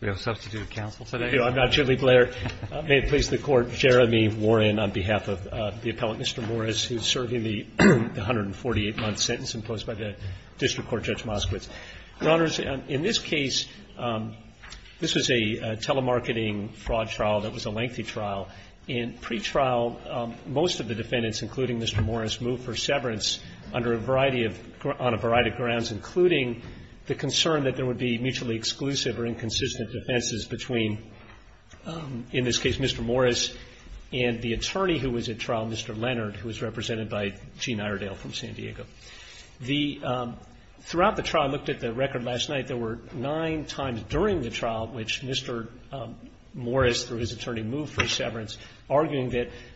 We have a substitute counsel today. Thank you. I'm not Jimmy Blair. May it please the Court, Jeremy Warren, on behalf of the appellate Mr. Morris, who is serving the 148-month sentence imposed by the District Court Judge Moskowitz. Your Honors, in this case, this was a telemarketing fraud trial that was a lengthy trial. In pretrial, most of the defendants, including Mr. Morris, moved for severance under a variety of – on a variety of grounds, including the concern that there would be mutually exclusive or inconsistent defenses between, in this case, Mr. Morris and the attorney who was at trial, Mr. Leonard, who was represented by Gene Iredale from San Diego. Throughout the trial, I looked at the record last night, there were nine times during the trial that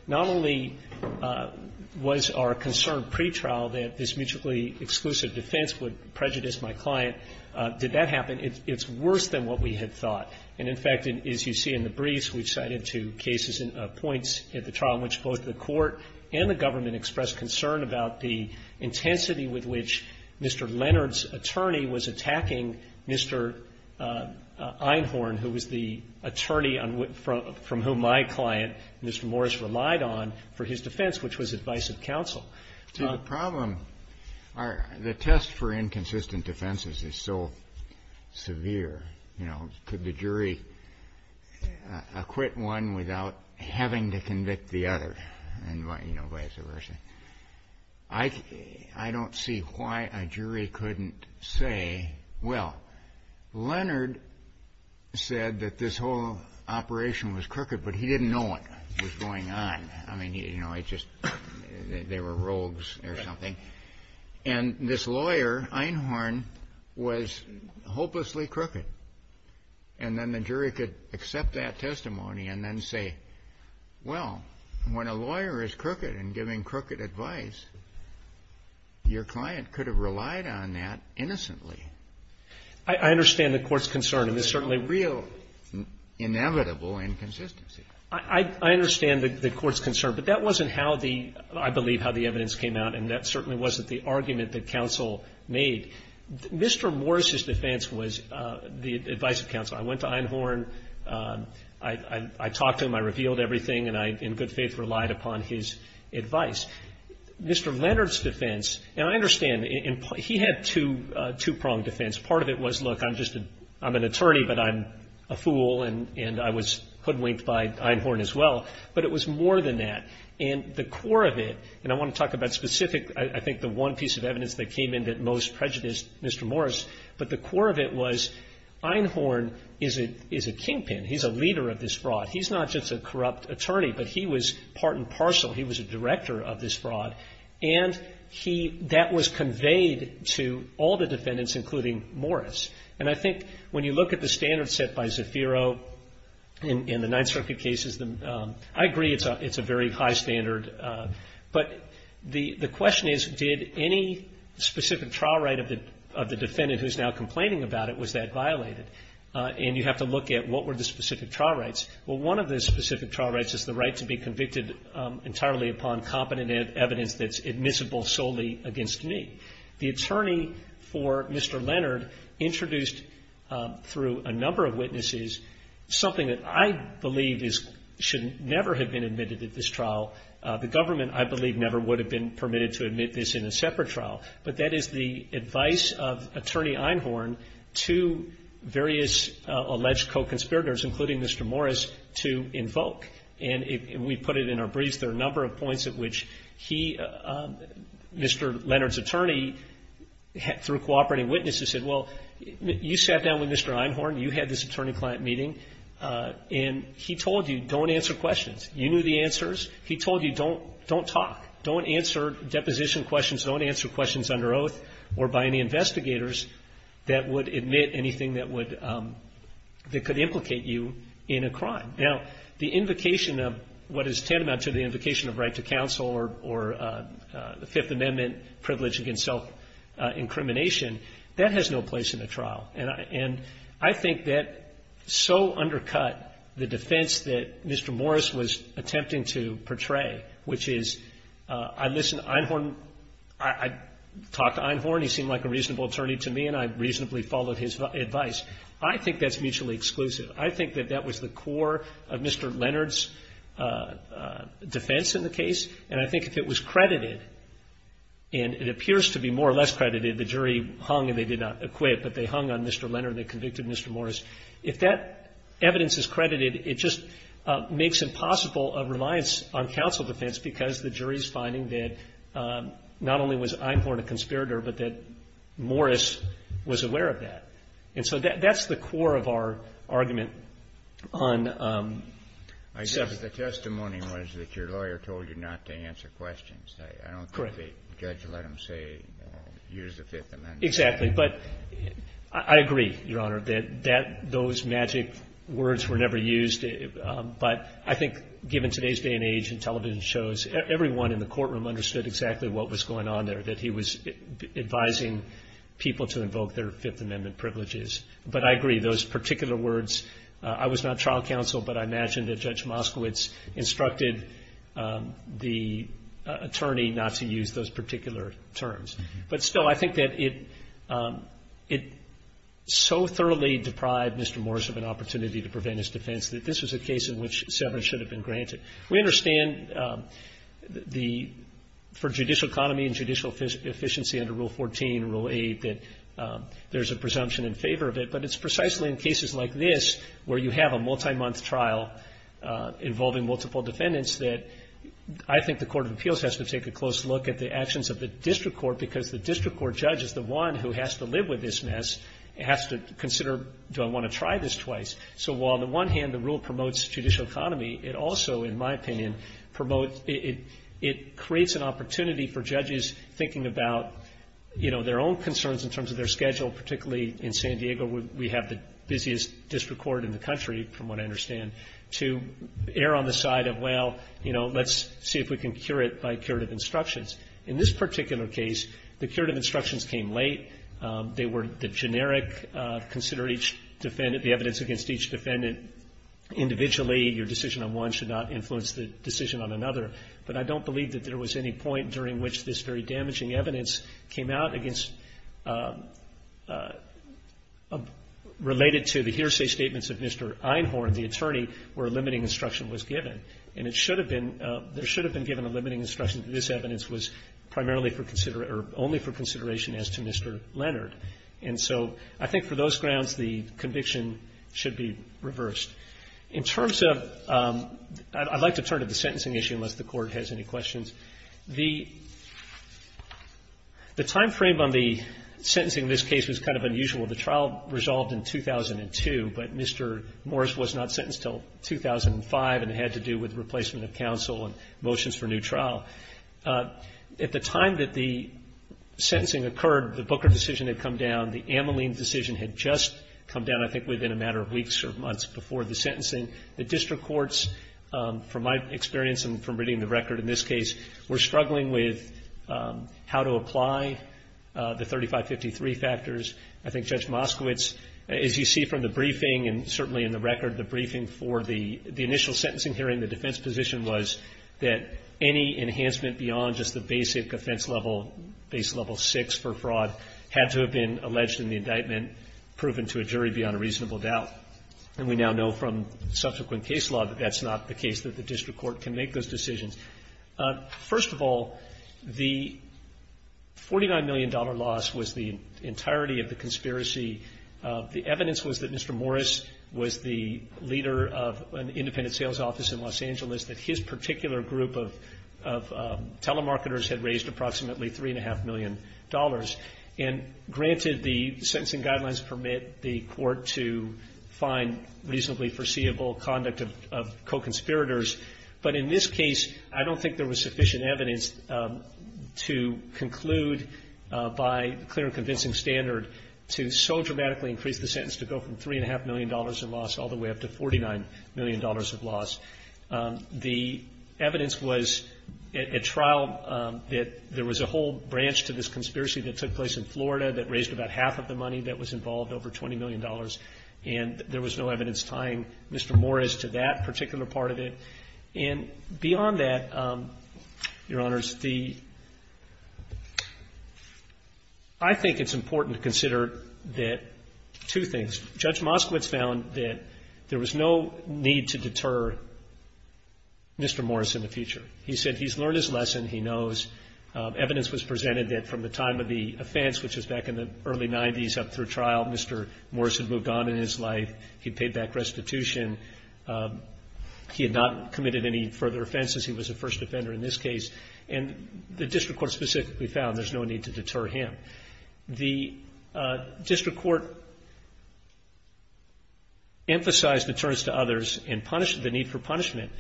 not only was our concern pretrial that this mutually exclusive defense would prejudice my client, did that happen, it's worse than what we had thought. And, in fact, as you see in the briefs, we cited two cases and points at the trial in which both the Court and the government expressed concern about the intensity with which Mr. Leonard's attorney was attacking Mr. Einhorn, who was the attorney from whom my client, Mr. Morris, relied on for his defense, which was advice of counsel. The problem, the test for inconsistent defenses is so severe, you know, could the jury acquit one without having to convict the other, and vice versa. I don't see why a jury couldn't say, well, Leonard said that this whole operation was crooked, but he didn't know what was going on. I mean, you know, it just, they were rogues or something. And this lawyer, Einhorn, was hopelessly crooked. And then the jury could accept that testimony and then say, well, when a lawyer is crooked and giving crooked advice, your client could have relied on that innocently. I understand the Court's concern, and it's certainly real inevitable inconsistency. I understand the Court's concern, but that wasn't how the, I believe, how the evidence came out, and that certainly wasn't the argument that counsel made. Mr. Morris's defense was the advice of counsel. I went to Einhorn. I talked to him. I revealed everything, and I, in good faith, relied upon his advice. Mr. Leonard's defense, and I understand, he had two-pronged defense. Part of it was, look, I'm just a, I'm an attorney, but I'm a fool, and I was hoodwinked by Einhorn as well, but it was more than that. And the core of it, and I want to talk about specific, I think the one piece of evidence that came in that most prejudiced Mr. Morris, but the core of it was Einhorn is a kingpin. He's a leader of this fraud. He's not just a corrupt attorney, but he was part and parcel. He was a director of this fraud, and he, that was conveyed to all the defendants, including Morris. And I think when you look at the standards set by Zafiro in the Ninth Circuit cases, I agree it's a very high standard, but the question is, did any specific trial right of the defendant who's now complaining about it, was that violated? And you have to look at what were the specific trial rights. Well, one of the specific trial rights is the right to be convicted entirely upon competent evidence that's admissible solely against me. The attorney for Mr. Leonard introduced, through a number of witnesses, something that I believe is, should never have been admitted at this trial. The government, I believe, never would have been permitted to admit this in a separate trial, but that is the advice of Attorney Einhorn to various alleged co-conspirators, including Mr. Morris, to invoke. And we put it in our briefs. There are a number of points at which he, Mr. Leonard's attorney, through cooperating witnesses, said, well, you sat down with Mr. Einhorn. You had this attorney-client meeting, and he told you, don't answer questions. You knew the answers. He told you, don't talk. Don't answer deposition questions. Don't answer questions under oath or by any investigators that would admit anything that would, that could implicate you in a crime. Now, the invocation of what is tantamount to the invocation of right to counsel or Fifth Amendment privilege against self-incrimination, that has no place in the trial. And I think that so undercut the defense that Mr. Morris was attempting to portray, which is, I listened to Einhorn. I talked to Einhorn. He seemed like a reasonable attorney to me, and I reasonably followed his advice. I think that's mutually exclusive. I think that that was the core of Mr. Leonard's defense in the case. And I think if it was credited, and it appears to be more or less credited, the jury hung and they did not acquit, but they hung on Mr. Leonard and they convicted Mr. Morris. If that evidence is credited, it just makes it possible of reliance on counsel defense because the jury's finding that not only was Einhorn a conspirator, but that Morris was aware of that. And so that's the core of our argument on separate. The testimony was that your lawyer told you not to answer questions. Correct. I don't think the judge let him say, use the Fifth Amendment. Exactly. But I agree, Your Honor, that those magic words were never used. But I think given today's day and age in television shows, everyone in the courtroom understood exactly what was going on there, that he was advising people to invoke their Fifth Amendment privileges. But I agree, those particular words, I was not trial counsel, but I imagine that Judge Moskowitz instructed the attorney not to use those particular terms. But still, I think that it so thoroughly deprived Mr. Morris of an opportunity to prevent his case. This was a case in which severance should have been granted. We understand for judicial economy and judicial efficiency under Rule 14, Rule 8, that there's a presumption in favor of it. But it's precisely in cases like this where you have a multi-month trial involving multiple defendants that I think the Court of Appeals has to take a close look at the actions of the district court because the district court judge is the one who has to live with this mess and has to consider, do I want to try this twice? So while on the one hand, the rule promotes judicial economy, it also, in my opinion, promotes, it creates an opportunity for judges thinking about, you know, their own concerns in terms of their schedule, particularly in San Diego, where we have the busiest district court in the country, from what I understand, to err on the side of, well, you know, let's see if we can cure it by curative instructions. In this particular case, the curative instructions came late. They were the generic, consider each defendant, the evidence against each defendant individually. Your decision on one should not influence the decision on another. But I don't believe that there was any point during which this very damaging evidence came out against, related to the hearsay statements of Mr. Einhorn, the attorney, where limiting instruction was given. And it should have been, there should have been given a limiting instruction that this evidence was primarily for, or only for consideration as to Mr. Leonard. And so I think for those grounds, the conviction should be reversed. In terms of, I'd like to turn to the sentencing issue, unless the Court has any questions. The timeframe on the sentencing in this case was kind of unusual. The trial resolved in 2002, but Mr. Morris was not sentenced until 2005, and it had to do with replacement of counsel and motions for new trial. At the time that the sentencing occurred, the Booker decision had come down. The Ameline decision had just come down, I think, within a matter of weeks or months before the sentencing. The district courts, from my experience and from reading the record in this case, were struggling with how to apply the 3553 factors. I think Judge Moskowitz, as you see from the briefing and certainly in the record, the briefing for the initial sentencing hearing, the defense position was that any enhancement beyond just the basic offense level, base level six for fraud, had to have been alleged in the indictment, proven to a jury beyond a reasonable doubt. And we now know from subsequent case law that that's not the case, that the district court can make those decisions. First of all, the $49 million loss was the entirety of the conspiracy. The evidence was that Mr. Morris was the leader of an independent sales office in Los Angeles, that his particular group of telemarketers had raised approximately $3.5 million, and granted the sentencing guidelines permit the court to find reasonably foreseeable conduct of co-conspirators. But in this case, I don't think there was sufficient evidence to conclude by clear and convincing standard to so dramatically increase the sentence to go from $3.5 million in loss all the way up to $49 million of loss. The evidence was at trial that there was a whole branch to this conspiracy that took place in Florida that raised about half of the money that was involved, over $20 million, and there was no evidence tying Mr. Morris to that particular part of it. And beyond that, Your Honors, the – I think it's important to consider that two documents found that there was no need to deter Mr. Morris in the future. He said he's learned his lesson, he knows. Evidence was presented that from the time of the offense, which was back in the early 90s up through trial, Mr. Morris had moved on in his life, he paid back restitution, he had not committed any further offenses, he was a first offender in this case. And the district court specifically found there's no need to deter him. The district court emphasized deterrence to others and punished the need for punishment,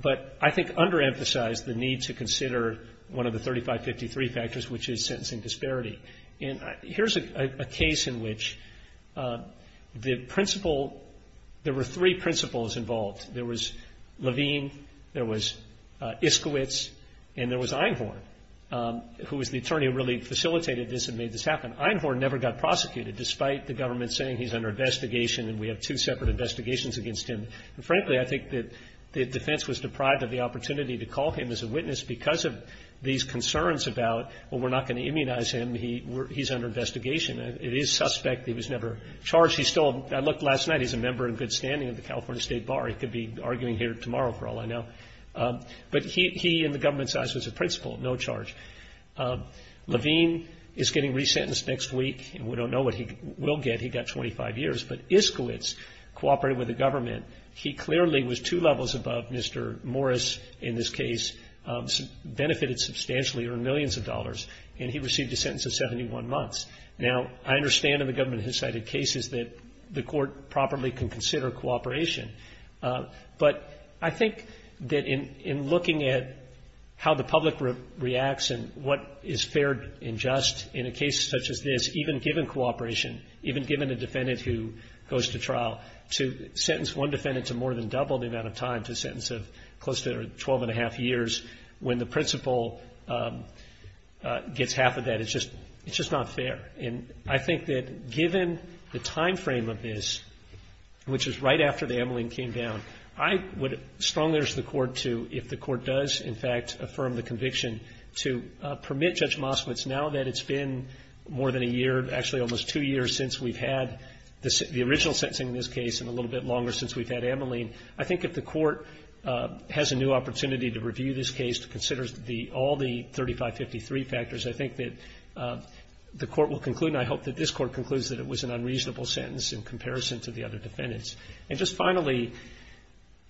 but I think underemphasized the need to consider one of the 3553 factors, which is sentencing disparity. And here's a case in which the principal – there were three principals involved. There was Levine, there was Iskowitz, and there was Einhorn, who was the attorney who really facilitated this and made this happen. Einhorn never got prosecuted, despite the government saying he's under investigation and we have two separate investigations against him. And frankly, I think that the defense was deprived of the opportunity to call him as a witness because of these concerns about, well, we're not going to immunize him, he's under investigation. It is suspect he was never charged. He's still – I looked last night, he's a member in good standing at the California State Bar. He could be arguing here tomorrow, for all I know. But he, in the government's eyes, was a principal, no charge. Levine is getting resentenced next week, and we don't know what he will get. He got 25 years. But Iskowitz cooperated with the government. He clearly was two levels above Mr. Morris in this case, benefited substantially, earned millions of dollars, and he received a sentence of 71 months. Now, I understand in the government has cited cases that the court properly can consider cooperation. But I think that in looking at how the public reacts and what is fair and just in a case such as this, even given cooperation, even given a defendant who goes to trial, to sentence one defendant to more than double the amount of time to a sentence of close to 12 and a half years, when the principal gets half of that, it's just not fair. And I think that given the timeframe of this, which is right after the amyline came down, I would strongly urge the court to, if the court does, in fact, affirm the conviction, to permit Judge Moskowitz, now that it's been more than a year, actually almost two years since we've had the original sentencing in this case and a little bit longer since we've had amyline, I think if the court has a new opportunity to conclude, and I hope that this court concludes that it was an unreasonable sentence in comparison to the other defendants. And just finally,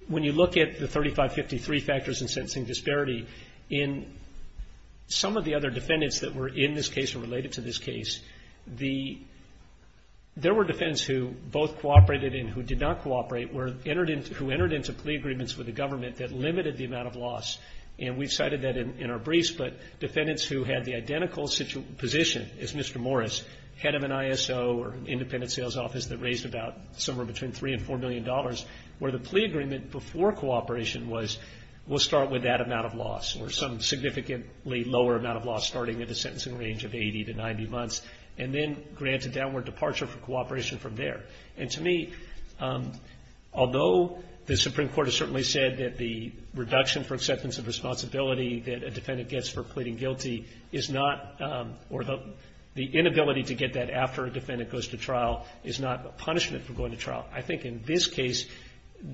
when you look at the 3553 factors in sentencing disparity, in some of the other defendants that were in this case or related to this case, there were defendants who both cooperated and who did not cooperate, who entered into plea agreements with the government that limited the amount of loss. And we've cited that in our briefs, but defendants who had the identical position as Mr. Morris, head of an ISO or an independent sales office that raised about somewhere between three and four million dollars, where the plea agreement before cooperation was, we'll start with that amount of loss or some significantly lower amount of loss starting at a sentencing range of 80 to 90 months, and then grant a downward departure for cooperation from there. And to me, although the Supreme Court has certainly said that the reduction for acceptance of responsibility that a defendant gets for pleading guilty is not, or the inability to get that after a defendant goes to trial is not a punishment for going to trial. I think in this case,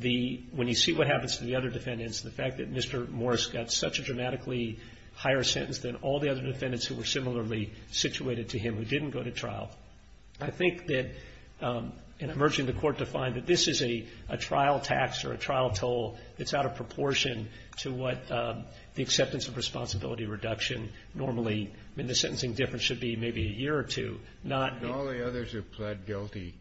when you see what happens to the other defendants, the fact that Mr. Morris got such a dramatically higher sentence than all the other defendants who were similarly situated to him who didn't go to trial, I think that in emerging the court to find that this is a trial tax or a trial toll that's out of proportion to what the acceptance of responsibility reduction normally, I mean, the sentencing difference should be maybe a year or two, not. And all the others who pled guilty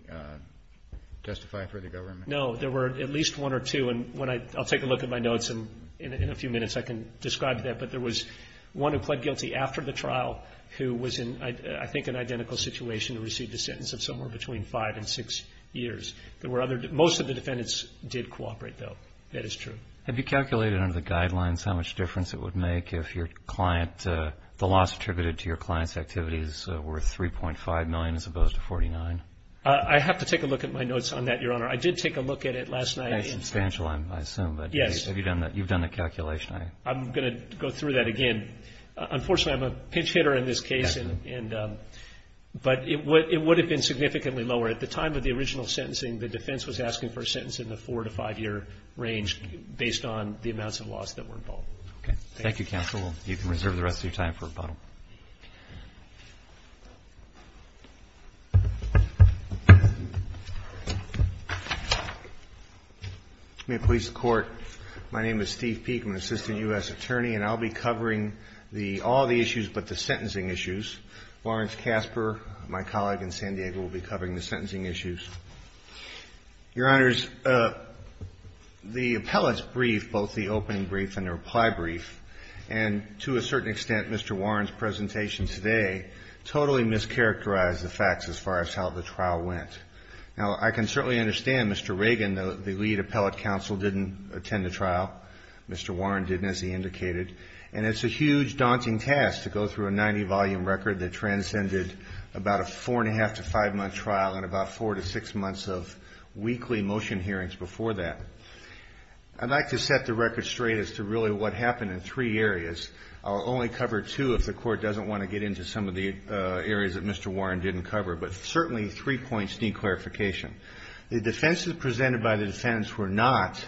testify for the government? No, there were at least one or two. And when I, I'll take a look at my notes and in a few minutes I can describe that. But there was one who pled guilty after the trial who was in, I think, an identical situation and received a sentence of somewhere between five and six years. There were other, most of the defendants did cooperate though. That is true. Have you calculated under the guidelines how much difference it would make if your client, the loss attributed to your client's activities were 3.5 million as opposed to 49? I have to take a look at my notes on that, Your Honor. I did take a look at it last night. It's substantial, I assume. But have you done that? You've done the calculation. I'm going to go through that again. Unfortunately, I'm a pinch hitter in this case, but it would have been significantly lower. At the time of the original sentencing, the defense was asking for a sentence in the four to five year range based on the amounts of loss that were involved. Okay. Thank you, counsel. You can reserve the rest of your time for rebuttal. May it please the Court. My name is Steve Peek. I'm an assistant U.S. attorney, and I'll be covering all the issues but the sentencing issues. Lawrence Kasper, my colleague in San Diego, will be covering the sentencing issues. Your Honors, the appellate's brief, both the opening brief and the reply brief, and to a certain extent, Mr. Warren's presentation today totally mischaracterized the facts as far as how the trial went. Now, I can certainly understand Mr. Reagan, the lead appellate counsel, didn't attend the trial. Mr. Warren didn't, as he indicated. And it's a huge, daunting task to go through a 90-volume record that transcended about a four and a half to five month trial in about four to six months. of weekly motion hearings before that. I'd like to set the record straight as to really what happened in three areas. I'll only cover two if the Court doesn't want to get into some of the areas that Mr. Warren didn't cover, but certainly three points need clarification. The defenses presented by the defendants were not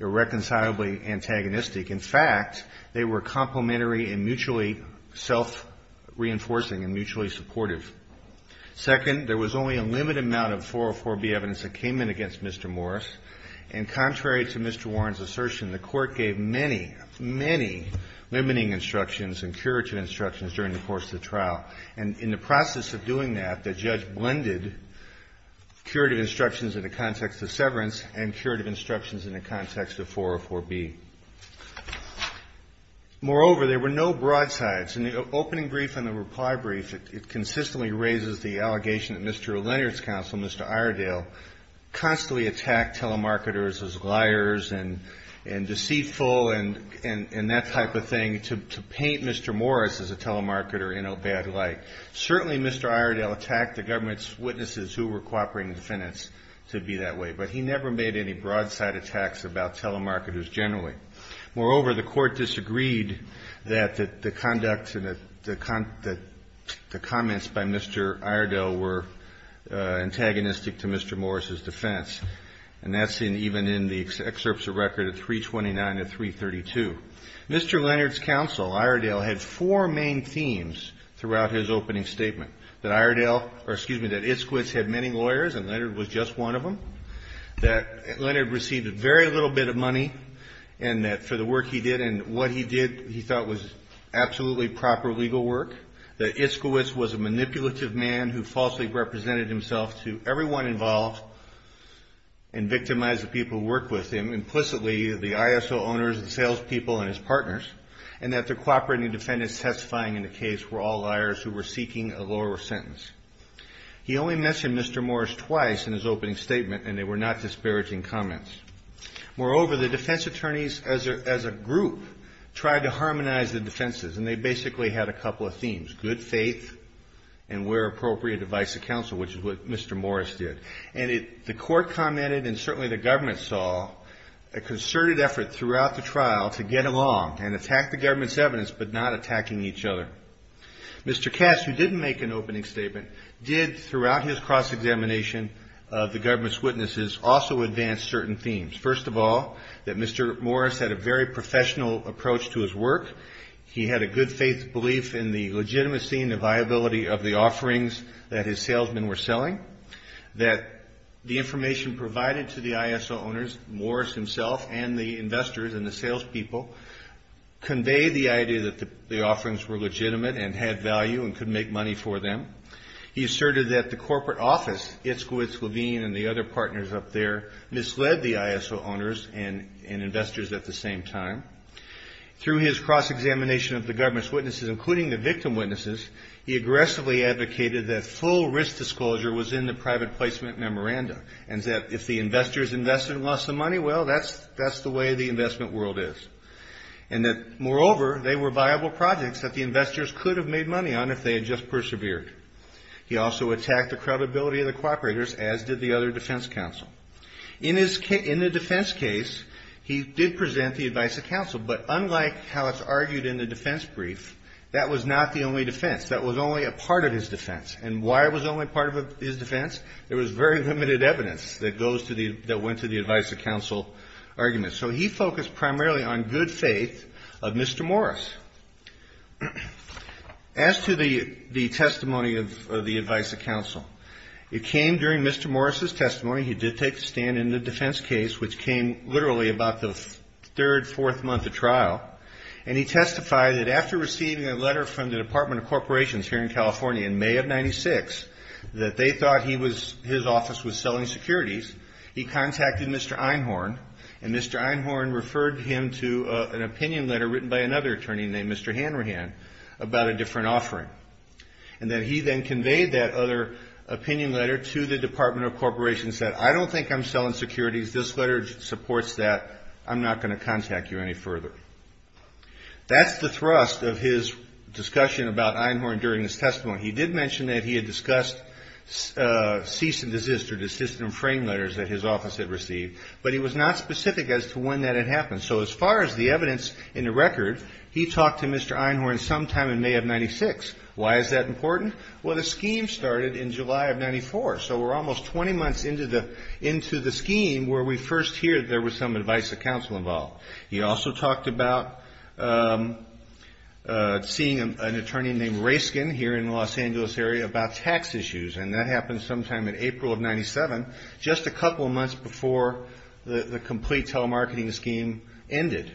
irreconcilably antagonistic. In fact, they were complementary and mutually self-reinforcing and mutually supportive. Second, there was only a limited amount of 404B evidence that came in against Mr. Morris, and contrary to Mr. Warren's assertion, the Court gave many, many limiting instructions and curative instructions during the course of the trial. And in the process of doing that, the judge blended curative instructions in the context of severance and curative instructions in the context of 404B. Moreover, there were no broad sides. In the opening brief and the reply brief, it consistently raises the allegation that Mr. Leonard's counsel, Mr. Iredale, constantly attacked telemarketers as liars and deceitful and that type of thing to paint Mr. Morris as a telemarketer in a bad light. Certainly, Mr. Iredale attacked the government's witnesses who were cooperating defendants to be that way, but he never made any broadside attacks about telemarketers generally. Moreover, the Court disagreed that the conduct and the comments by Mr. Iredale were antagonistic to Mr. Morris's defense, and that's even in the excerpts of record at 329 and 332. Leonard's counsel, Iredale, had four main themes throughout his opening statement, that Iredale or, excuse me, that Iskwitz had many lawyers and Leonard was just one of them, that Leonard received a very little bit of money, and that he was a man of his word. And that for the work he did and what he did, he thought was absolutely proper legal work, that Iskwitz was a manipulative man who falsely represented himself to everyone involved and victimized the people who worked with him, implicitly the ISO owners, the salespeople, and his partners, and that the cooperating defendants testifying in the case were all liars who were seeking a lower sentence. He only mentioned Mr. Morris twice in his opening statement, and they were not disparaging comments. Moreover, the defense attorneys as a group tried to harmonize the defenses, and they basically had a couple of themes, good faith and where appropriate advice to counsel, which is what Mr. Morris did. And the court commented, and certainly the government saw, a concerted effort throughout the trial to get along and attack the government's evidence, but not attacking each other. Mr. Cass, who didn't make an opening statement, did, throughout his cross-examination of the government's witnesses, also advance certain themes. First of all, that Mr. Morris had a very professional approach to his work. He had a good faith belief in the legitimacy and the viability of the offerings that his salesmen were selling, that the information provided to the ISO owners, Morris himself and the investors and the salespeople, conveyed the idea that the offerings were legitimate and had value and could make money for them. He asserted that the corporate office, Itzkowitz, Levine, and the other partners up there, misled the ISO owners and investors at the same time. Through his cross-examination of the government's witnesses, including the victim witnesses, he aggressively advocated that full risk disclosure was in the private placement memorandum, and that if the investors invested and lost the money, well, that's the way the investment world is. And that, moreover, they were viable projects that the investors could have made money on if they had just persevered. He also attacked the credibility of the cooperators, as did the other defense counsel. In the defense case, he did present the advice of counsel, but unlike how it's argued in the defense brief, that was not the only defense. That was only a part of his defense. And why it was only part of his defense? There was very limited evidence that went to the advice of counsel arguments. So he focused primarily on good faith of Mr. Morris. As to the testimony of the advice of counsel, it came during Mr. Morris's testimony. He did take a stand in the defense case, which came literally about the third, fourth month of trial. And he testified that after receiving a letter from the Department of Corporations here in California in May of 96, that they thought his office was selling securities, he contacted Mr. Einhorn. And Mr. Einhorn referred him to an opinion letter written by another attorney named Mr. Hanrahan about a different offering. And that he then conveyed that other opinion letter to the Department of Corporations that, I don't think I'm selling securities, this letter supports that, I'm not going to contact you any further. That's the thrust of his discussion about Einhorn during his testimony. He did mention that he had discussed cease and desist or desist and frame letters that his office had received. But he was not specific as to when that had happened. So as far as the evidence in the record, he talked to Mr. Einhorn sometime in May of 96. Why is that important? Well, the scheme started in July of 94. So we're almost 20 months into the scheme where we first hear that there was some advice of counsel involved. He also talked about seeing an attorney named Raskin here in the Los Angeles area about tax issues. And that happened sometime in April of 97, just a couple of months before the complete telemarketing scheme ended.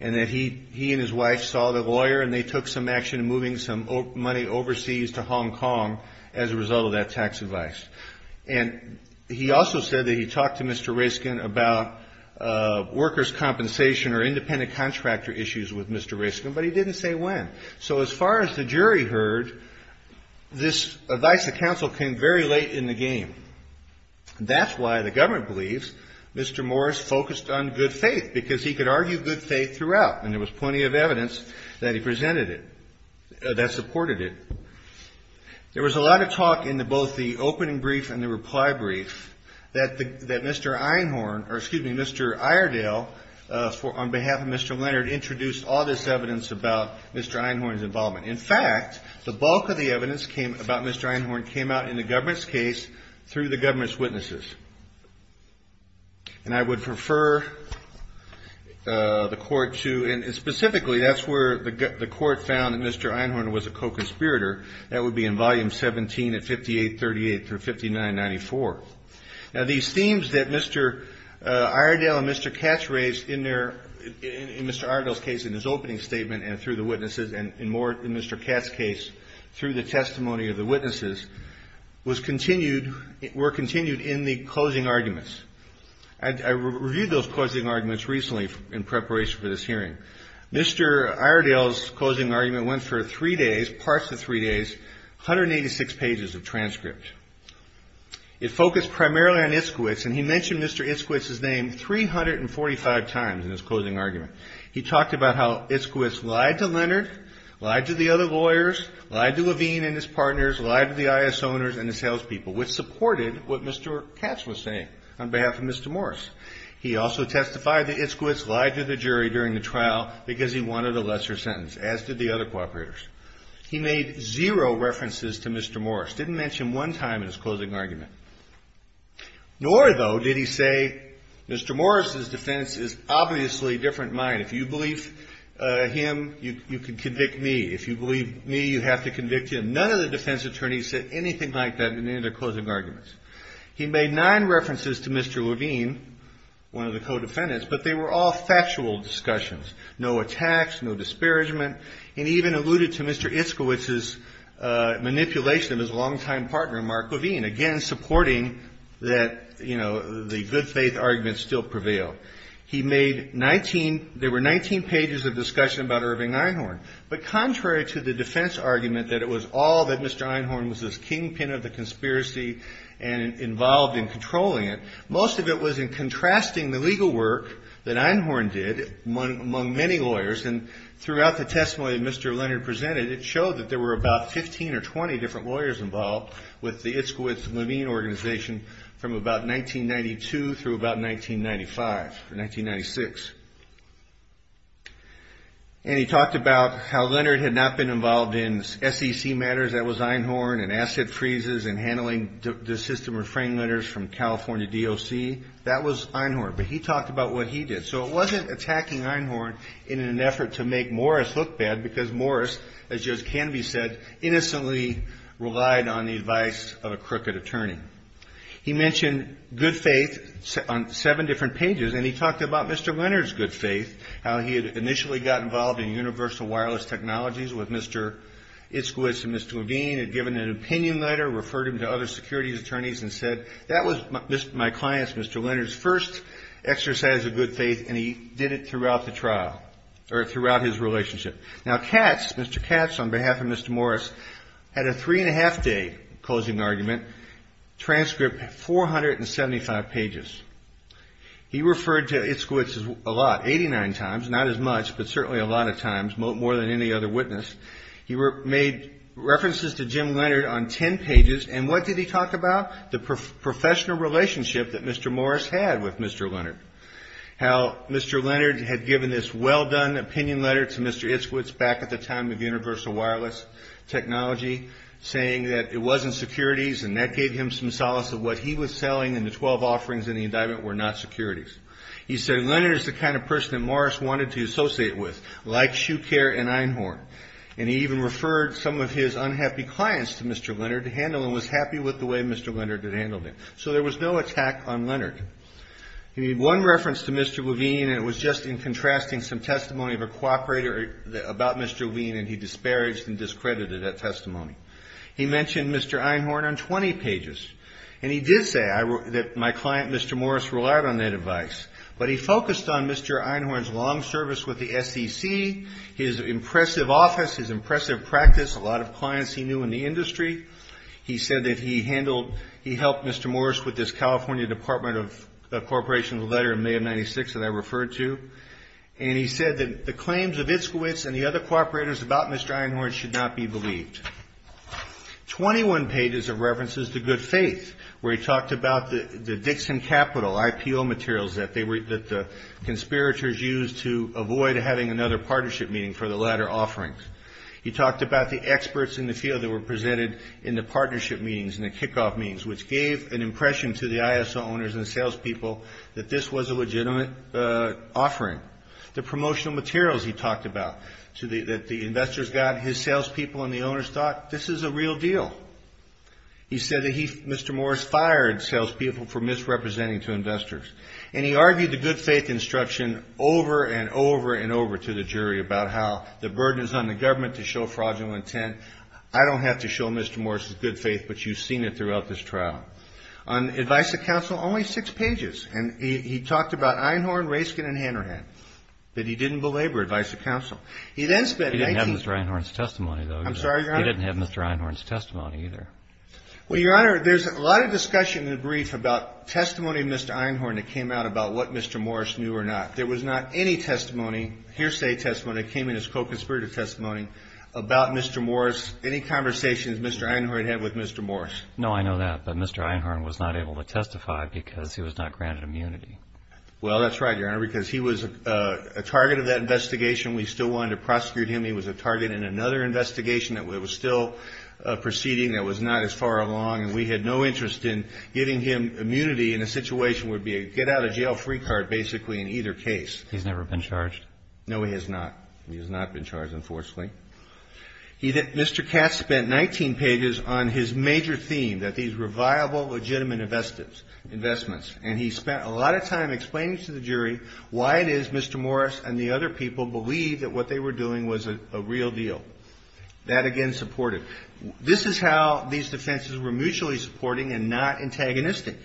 And that he and his wife saw the lawyer and they took some action in moving some money overseas to Hong Kong as a result of that tax advice. And he also said that he talked to Mr. Raskin about workers' compensation or independent contractor issues with Mr. Raskin. But he didn't say when. So as far as the jury heard, this advice of counsel came very late in the game. That's why the government believes Mr. Morris focused on good faith, because he could argue good faith throughout. And there was plenty of evidence that he presented it, that supported it. There was a lot of talk in both the opening brief and the reply brief that Mr. Einhorn, or excuse me, Mr. Iredale, on behalf of Mr. Leonard, introduced all this evidence about Mr. Einhorn's involvement. In fact, the bulk of the evidence about Mr. Einhorn came out in the government's case through the government's witnesses. And I would prefer the court to, and specifically, that's where the court found that Mr. Einhorn was a co-conspirator. That would be in volume 17 at 5838 through 5994. Now, these themes that Mr. Iredale and Mr. Katz raised in their, in Mr. Iredale's case, in his opening statement and through the witnesses, and more in Mr. Katz's case, through the testimony of the witnesses, was continued, were continued in the closing arguments. I reviewed those closing arguments recently in preparation for this hearing. Mr. Iredale's closing argument went for three days, parts of three days, 186 pages of transcript. It focused primarily on Itzkowitz, and he mentioned Mr. Itzkowitz's name 345 times in his closing argument. He talked about how Itzkowitz lied to Leonard, lied to the other lawyers, lied to Levine and his partners, lied to the IS owners and the salespeople, which supported what Mr. Katz was saying on behalf of Mr. Morris. He also testified that Itzkowitz lied to the jury during the trial because he wanted a lesser sentence, as did the other co-operators. He made zero references to Mr. Morris. Didn't mention him one time in his closing argument, nor, though, did he say, Mr. Morris's defense is obviously a different mind. If you believe him, you can convict me. If you believe me, you have to convict him. None of the defense attorneys said anything like that in any of their closing arguments. He made nine references to Mr. Levine, one of the co-defendants, but they were all factual discussions. No attacks, no disparagement, and he even alluded to Mr. Itzkowitz's manipulation of his longtime partner, Mark Levine. Again, supporting that, you know, the good faith argument still prevailed. He made 19, there were 19 pages of discussion about Irving Einhorn, but contrary to the defense argument that it was all that Mr. Einhorn was this kingpin of the conspiracy and involved in controlling it, most of it was in contrasting the legal work that Einhorn did among many lawyers. And throughout the testimony that Mr. Leonard presented, it showed that there were about 15 or 20 different lawyers involved with the Itzkowitz-Levine organization from about 1992 through about 1995 or 1996. And he talked about how Leonard had not been involved in SEC matters, that was Einhorn, and asset freezes, and handling the system refraining letters from California DOC, that was Einhorn, but he talked about what he did. So it wasn't attacking Einhorn in an effort to make Morris look bad, because Morris, as Joe Canvey said, innocently relied on the advice of a crooked attorney. He mentioned good faith on seven different pages, and he talked about Mr. Leonard's good faith, how he had initially got involved in universal wireless technologies with Mr. Itzkowitz and Mr. Levine, had given an opinion letter, referred him to other securities attorneys, and said, that was my client's, Mr. Leonard's first exercise of good faith, and he did it throughout the trial, or throughout his relationship. Now Katz, Mr. Katz, on behalf of Mr. Morris, had a three and a half day closing argument, transcript 475 pages. He referred to Itzkowitz a lot, 89 times, not as much, but certainly a lot of times, more than any other witness. He made references to Jim Leonard on 10 pages, and what did he talk about? The professional relationship that Mr. Morris had with Mr. Leonard. How Mr. Leonard had given this well-done opinion letter to Mr. Itzkowitz back at the time of universal wireless technology, saying that it wasn't securities, and that gave him some solace of what he was selling, and the 12 offerings in the indictment were not securities. He said, Leonard is the kind of person that Morris wanted to associate with, like Shucare and Einhorn, and he even referred some of his unhappy clients to Mr. Leonard to handle, and was happy with the way Mr. Leonard had handled it. So there was no attack on Leonard. He made one reference to Mr. Levine, and it was just in contrasting some testimony of a cooperator about Mr. Levine, and he disparaged and discredited that testimony. He mentioned Mr. Einhorn on 20 pages, and he did say that my client, Mr. Morris, relied on that advice, but he focused on Mr. Einhorn's long service with the SEC, his impressive office, his impressive practice, a lot of clients he knew in the industry. He said that he handled, he helped Mr. Morris with this California Department of Corporation letter in May of 96 that I referred to, and he said that the claims of Itzkowitz and the other cooperators about Mr. Einhorn should not be believed. 21 pages of references to good faith, where he talked about the Dixon Capital IPO materials that the conspirators used to avoid having another partnership meeting for the latter offerings. He talked about the experts in the field that were presented in the partnership meetings and the kickoff meetings, which gave an impression to the ISO owners and salespeople that this was a legitimate offering. The promotional materials he talked about that the investors got, his salespeople and the owners thought, this is a real deal. He said that Mr. Morris fired salespeople for misrepresenting to investors, and he argued the good faith instruction over and over and over to the jury about how the burden is on the government to show fraudulent intent. I don't have to show Mr. Morris good faith, but you've seen it throughout this trial. On advice to counsel, only six pages, and he talked about Einhorn, Raskin, and Hanrahan, but he didn't belabor advice to counsel. He then spent 19- He didn't have Mr. Einhorn's testimony, though. I'm sorry, Your Honor? He didn't have Mr. Einhorn's testimony, either. Well, Your Honor, there's a lot of discussion in the brief about testimony of Mr. Einhorn that came out about what Mr. Morris knew or not. There was not any testimony, hearsay testimony, that came in as co-conspirator testimony about Mr. Morris. Any conversations Mr. Einhorn had with Mr. Morris? No, I know that, but Mr. Einhorn was not able to testify because he was not granted immunity. Well, that's right, Your Honor, because he was a target of that investigation. We still wanted to prosecute him. He was a target in another investigation that was still proceeding that was not as far along. And we had no interest in giving him immunity in a situation where it would be a get-out-of-jail-free card, basically, in either case. He's never been charged? No, he has not. He has not been charged, unfortunately. He did – Mr. Katz spent 19 pages on his major theme, that these were viable, legitimate investments. And he spent a lot of time explaining to the jury why it is Mr. Morris and the other people believed that what they were doing was a real deal. That, again, supported. This is how these defenses were mutually supporting and not antagonistic.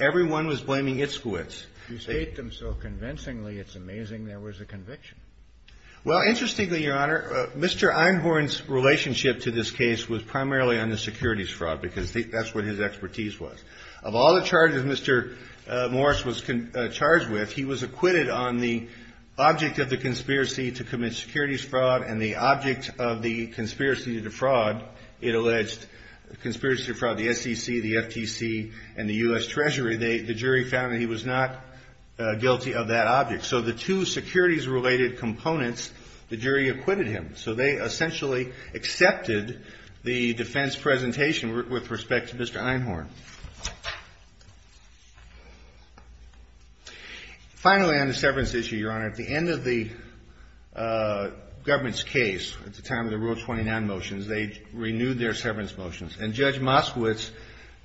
Everyone was blaming its squids. You state them so convincingly. It's amazing there was a conviction. Well, interestingly, Your Honor, Mr. Einhorn's relationship to this case was primarily on the securities fraud, because that's what his expertise was. Of all the charges Mr. Morris was charged with, he was acquitted on the object of the conspiracy to commit securities fraud and the object of the conspiracy to defraud, it alleged, conspiracy to defraud the SEC, the FTC, and the U.S. Treasury. The jury found that he was not guilty of that object. So the two securities-related components, the jury acquitted him. So they essentially accepted the defense presentation with respect to Mr. Einhorn. Finally, on the severance issue, Your Honor, at the end of the government's case, at the time of the Rule 29 motions, they renewed their severance motions. And Judge Moskowitz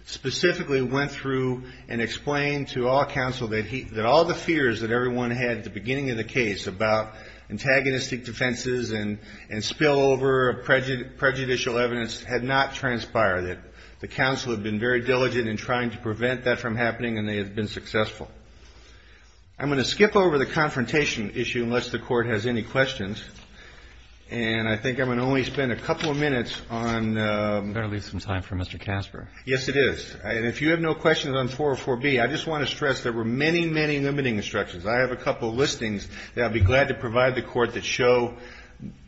specifically went through and explained to all counsel that all the fears that everyone had at the beginning of the case about antagonistic defenses and spillover of prejudicial evidence had not transpired, that the counsel had been very diligent in trying to prevent that from happening and they had been successful. I'm going to skip over the confrontation issue, unless the Court has any questions. And I think I'm going to only spend a couple of minutes on the ---- You better leave some time for Mr. Casper. Yes, it is. And if you have no questions on 404B, I just want to stress there were many, many limiting instructions. I have a couple of listings that I'd be glad to provide the Court that show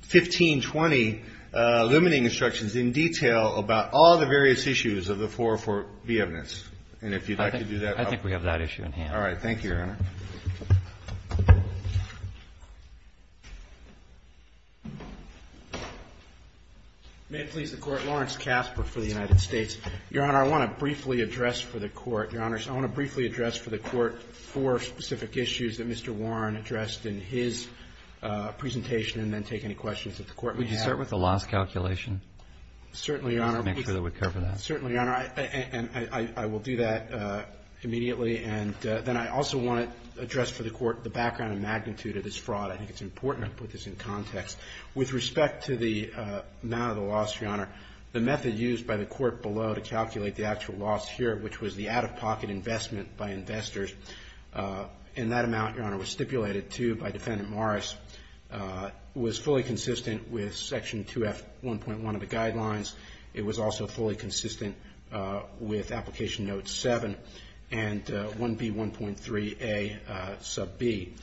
15, 20 limiting instructions in detail about all the various issues of the 404B evidence. And if you'd like to do that, I'll ---- I think we have that issue in hand. All right. Thank you, Your Honor. May it please the Court, Lawrence Casper for the United States. Your Honor, I want to briefly address for the Court, Your Honors, I want to briefly address the specific issues that Mr. Warren addressed in his presentation and then take any questions that the Court may have. Would you start with the loss calculation? Certainly, Your Honor. Just to make sure that we cover that. Certainly, Your Honor. And I will do that immediately. And then I also want to address for the Court the background and magnitude of this fraud. I think it's important to put this in context. With respect to the amount of the loss, Your Honor, the method used by the Court below to calculate the actual loss here, which was the out-of-pocket investment by investors, and that amount, Your Honor, was stipulated, too, by Defendant Morris, was fully consistent with Section 2F1.1 of the Guidelines. It was also fully consistent with Application Note 7 and 1B1.3a sub b.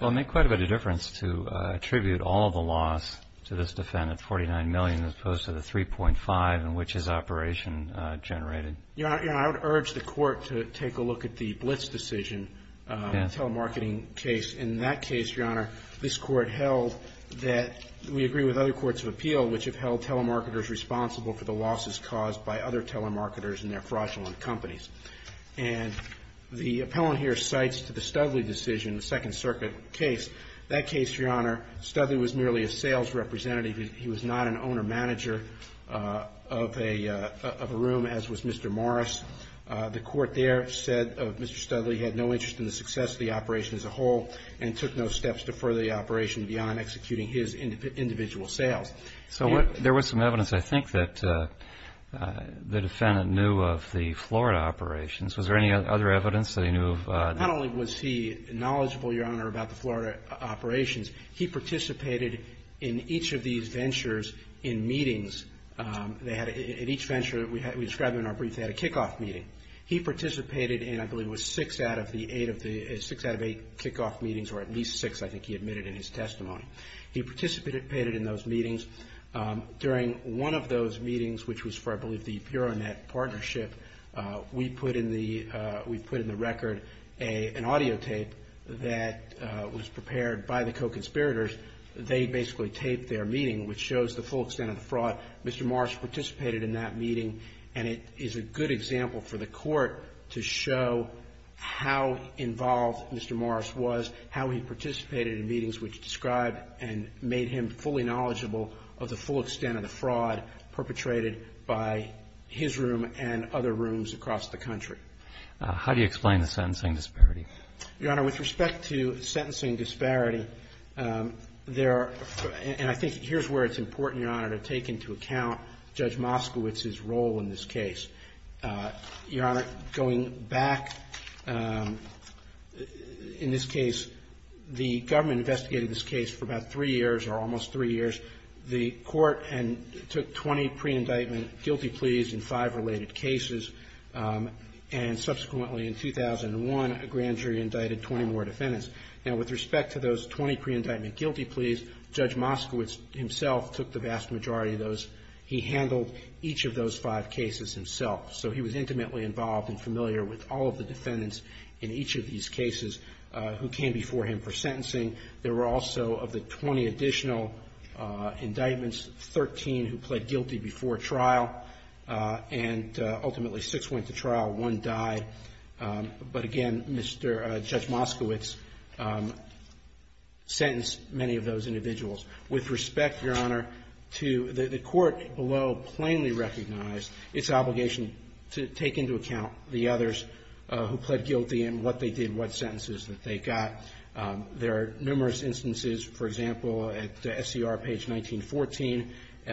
Well, it made quite a bit of difference to attribute all the loss to this defendant, 49 million, as opposed to the 3.5 in which his operation generated. Your Honor, I would urge the Court to take a look at the Blitz decision, telemarketing case. In that case, Your Honor, this Court held that we agree with other courts of appeal which have held telemarketers responsible for the losses caused by other telemarketers and their fraudulent companies. And the appellant here cites the Studley decision, the Second Circuit case. That case, Your Honor, Studley was merely a sales representative. He was not an owner-manager of a room, as was Mr. Morris. The Court there said Mr. Studley had no interest in the success of the operation as a whole and took no steps to further the operation beyond executing his individual sales. So there was some evidence, I think, that the defendant knew of the Florida operations. Was there any other evidence that he knew of? Not only was he knowledgeable, Your Honor, about the Florida operations, he participated in each of these ventures in meetings. They had, in each venture, we described in our brief, they had a kickoff meeting. He participated in, I believe, it was six out of the eight, six out of eight kickoff meetings, or at least six, I think he admitted in his testimony. He participated in those meetings. During one of those meetings, which was for, I believe, the BureauNet partnership, we put in the record an audio tape that was prepared by the co-conspirators. They basically taped their meeting, which shows the full extent of the fraud. Mr. Morris participated in that meeting, and it is a good example for the Court to show how involved Mr. Morris was, how he participated in meetings which described and made him fully knowledgeable of the full extent of the fraud perpetrated by his room and other rooms across the country. How do you explain the sentencing disparity? Your Honor, with respect to sentencing disparity, there are, and I think here's where it's important, Your Honor, to take into account Judge Moskowitz's role in this case. Your Honor, going back, in this case, the government investigated this case for about three years, or almost three years. The Court took 20 pre-indictment guilty pleas in five related cases, and subsequently, in 2001, a grand jury indicted 20 more defendants. Now, with respect to those 20 pre-indictment guilty pleas, Judge Moskowitz himself took the vast majority of those. He handled each of those five cases himself. So he was intimately involved and familiar with all of the defendants in each of these cases who came before him for sentencing. There were also, of the 20 additional indictments, 13 who pled guilty before trial, and ultimately six went to trial, one died. But again, Judge Moskowitz sentenced many of those individuals. With respect, Your Honor, the Court below plainly recognized its obligation to take into account the others who pled guilty and what they did, what sentences that they got. There are numerous instances, for example, at SCR page 1914, SCR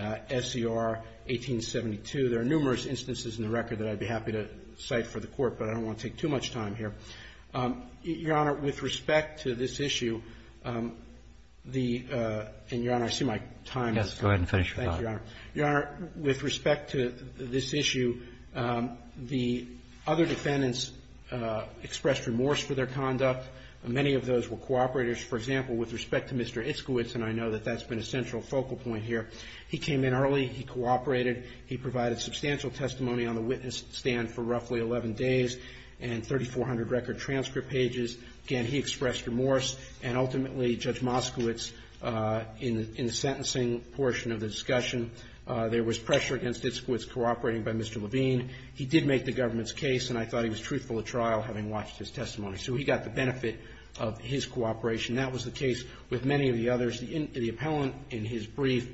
1872. There are numerous instances in the record that I'd be happy to cite for the Court, but I don't want to take too much time here. Your Honor, with respect to this issue, the – and, Your Honor, I see my time is up. Yes. Thank you, Your Honor. Your Honor, with respect to this issue, the other defendants expressed remorse for their conduct. Many of those were cooperators. For example, with respect to Mr. Iskowitz, and I know that that's been a central focal point here, he came in early. He cooperated. He provided substantial testimony on the witness stand for roughly 11 days and 3,400 record transcript pages. Again, he expressed remorse, and ultimately, Judge Moskowitz, in the sentencing portion of the discussion, there was pressure against Iskowitz cooperating by Mr. Levine. He did make the government's case, and I thought he was truthful at trial, having watched his testimony. So he got the benefit of his cooperation. That was the case with many of the others. The appellant, in his brief,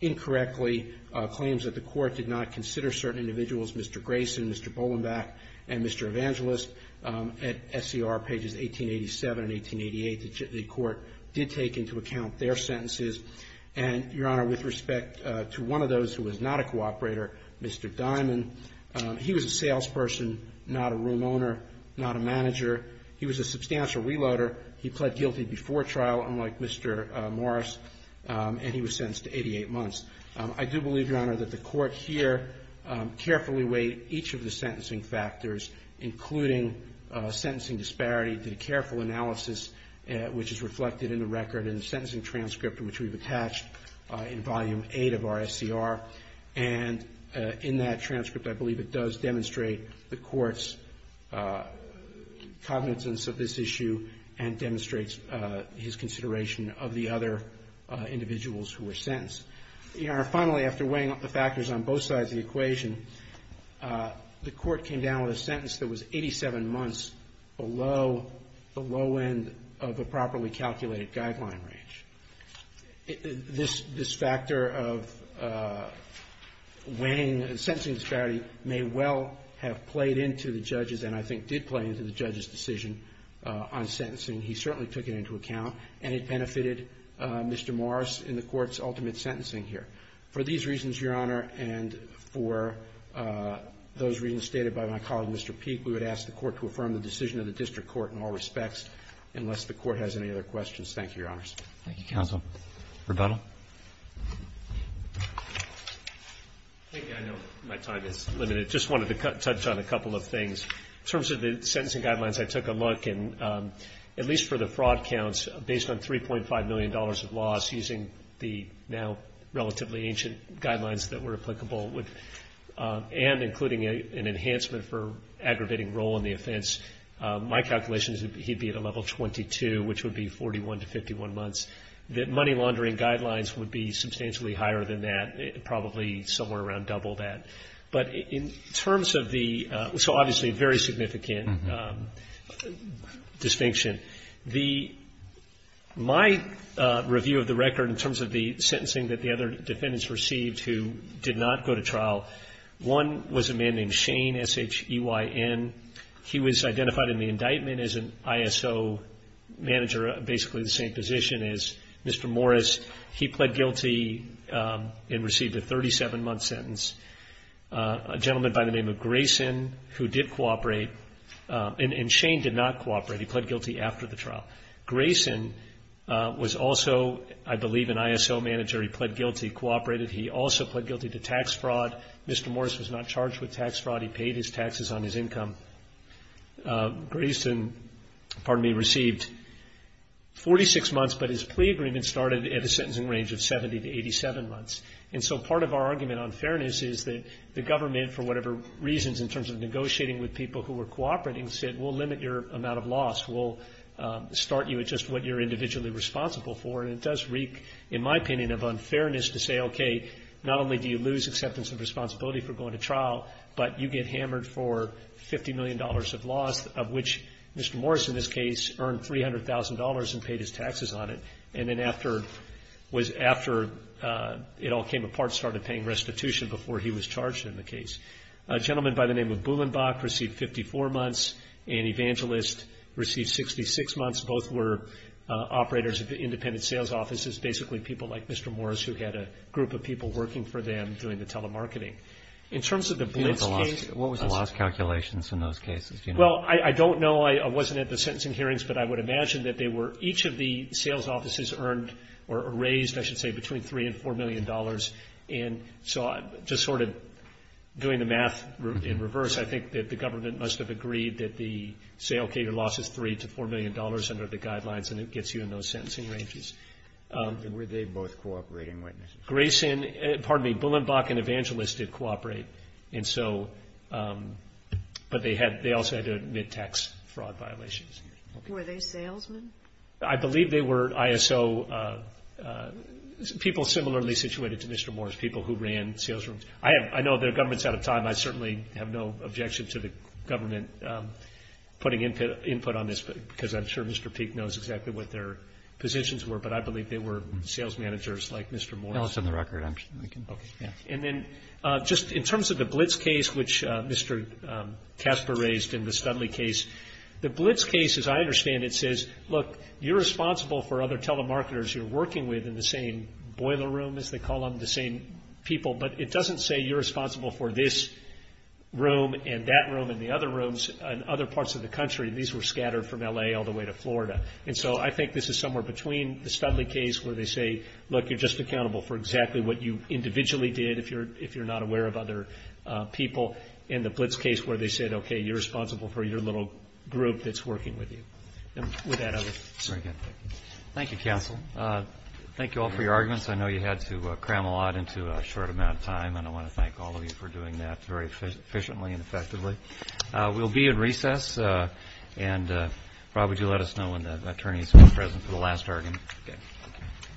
incorrectly claims that the Court did not consider certain individuals, Mr. Grayson, Mr. Bolenback, and Mr. Evangelist. At SCR pages 1887 and 1888, the Court did take into account their sentences. And, Your Honor, with respect to one of those who was not a cooperator, Mr. Diamond, he was a salesperson, not a room owner, not a manager. He was a substantial reloader. He pled guilty before trial, unlike Mr. Morris, and he was sentenced to 88 months. I do believe, Your Honor, that the Court here carefully weighed each of the sentencing factors, including sentencing disparity, did a careful analysis, which is reflected in the record in the sentencing transcript, which we've attached in Volume 8 of our SCR. And in that transcript, I believe it does demonstrate the Court's cognizance of this issue and demonstrates his consideration of the other individuals who were sentenced. Your Honor, finally, after weighing up the factors on both sides of the equation, the Court came down with a sentence that was 87 months below the low end of a properly calculated guideline range. This factor of weighing sentencing disparity may well have played into the judge's and I think did play into the judge's decision on sentencing. He certainly took it into account, and it benefited Mr. Morris in the Court's ultimate sentencing here. For these reasons, Your Honor, and for those reasons stated by my colleague, Mr. Peek, we would ask the Court to affirm the decision of the district court in all respects, unless the Court has any other questions. Thank you, Your Honors. Thank you, counsel. Rebuttal. I know my time is limited. I just wanted to touch on a couple of things. In terms of the sentencing guidelines I took a look, at least for the fraud counts, based on $3.5 million of loss using the now relatively ancient guidelines that were applicable, and including an enhancement for aggravating role in the offense, my calculation is that he'd be at a level 22, which would be 41 to 51 months, that money laundering guidelines would be substantially higher than that, probably somewhere around double that. But in terms of the so obviously very significant distinction, my review of the record in terms of the sentencing that the other defendants received who did not go to trial, one was a man named Shane, S-H-E-Y-N. He was identified in the indictment as an ISO manager, basically the same position as Mr. Morris. He pled guilty and received a 37-month sentence. A gentleman by the name of Grayson, who did cooperate, and Shane did not cooperate. He pled guilty after the trial. Grayson was also, I believe, an ISO manager. He pled guilty, cooperated. He also pled guilty to tax fraud. Mr. Morris was not charged with tax fraud. He paid his taxes on his income. Grayson, pardon me, received 46 months, but his plea agreement started at a sentencing range of 70 to 87 months. And so part of our argument on fairness is that the government, for whatever reasons in terms of negotiating with people who were cooperating, said, we'll limit your amount of loss. We'll start you at just what you're individually responsible for. And it does reek, in my opinion, of unfairness to say, okay, not only do you lose acceptance of responsibility for going to trial, but you get hammered for $50 million of loss, of which Mr. Morris, in this case, earned $300,000 and paid his taxes on it. And then after it all came apart, started paying restitution before he was charged in the case. A gentleman by the name of Bullenbach received 54 months. An evangelist received 66 months. Both were operators of independent sales offices, basically people like Mr. Morris who had a group of people working for them doing the telemarketing. In terms of the Blitz case. What was the loss calculations in those cases? Well, I don't know. I wasn't at the sentencing hearings. But I would imagine that they were each of the sales offices earned or raised, I should say, between $3 and $4 million. And so just sort of doing the math in reverse, I think that the government must have agreed that the sale, okay, your loss is $3 to $4 million under the guidelines and it gets you in those sentencing ranges. Were they both cooperating witnesses? Grayson, pardon me, Bullenbach and Evangelist did cooperate. And so, but they also had to admit tax fraud violations. Were they salesmen? I believe they were ISO people similarly situated to Mr. Morris, people who ran sales rooms. I know their government's out of time. I certainly have no objection to the government putting input on this, because I'm sure Mr. Peek knows exactly what their positions were. But I believe they were sales managers like Mr. Morris. Tell us on the record. And then just in terms of the Blitz case, which Mr. Casper raised in the Studley case, the Blitz case, as I understand it, says, look, you're responsible for other telemarketers you're working with in the same boiler room, as they call them, the same people. But it doesn't say you're responsible for this room and that room and the other rooms in other parts of the country. These were scattered from L.A. all the way to Florida. And so I think this is somewhere between the Studley case where they say, look, you're just accountable for exactly what you individually did if you're not aware of other people, and the Blitz case where they said, okay, you're responsible for your little group that's working with you. And with that, I'll leave it. Thank you, counsel. Thank you all for your arguments. I know you had to cram a lot into a short amount of time, and I want to thank all of you for doing that very efficiently and effectively. We'll be in recess. And Rob, would you let us know when the attorneys are present for the last argument? Okay.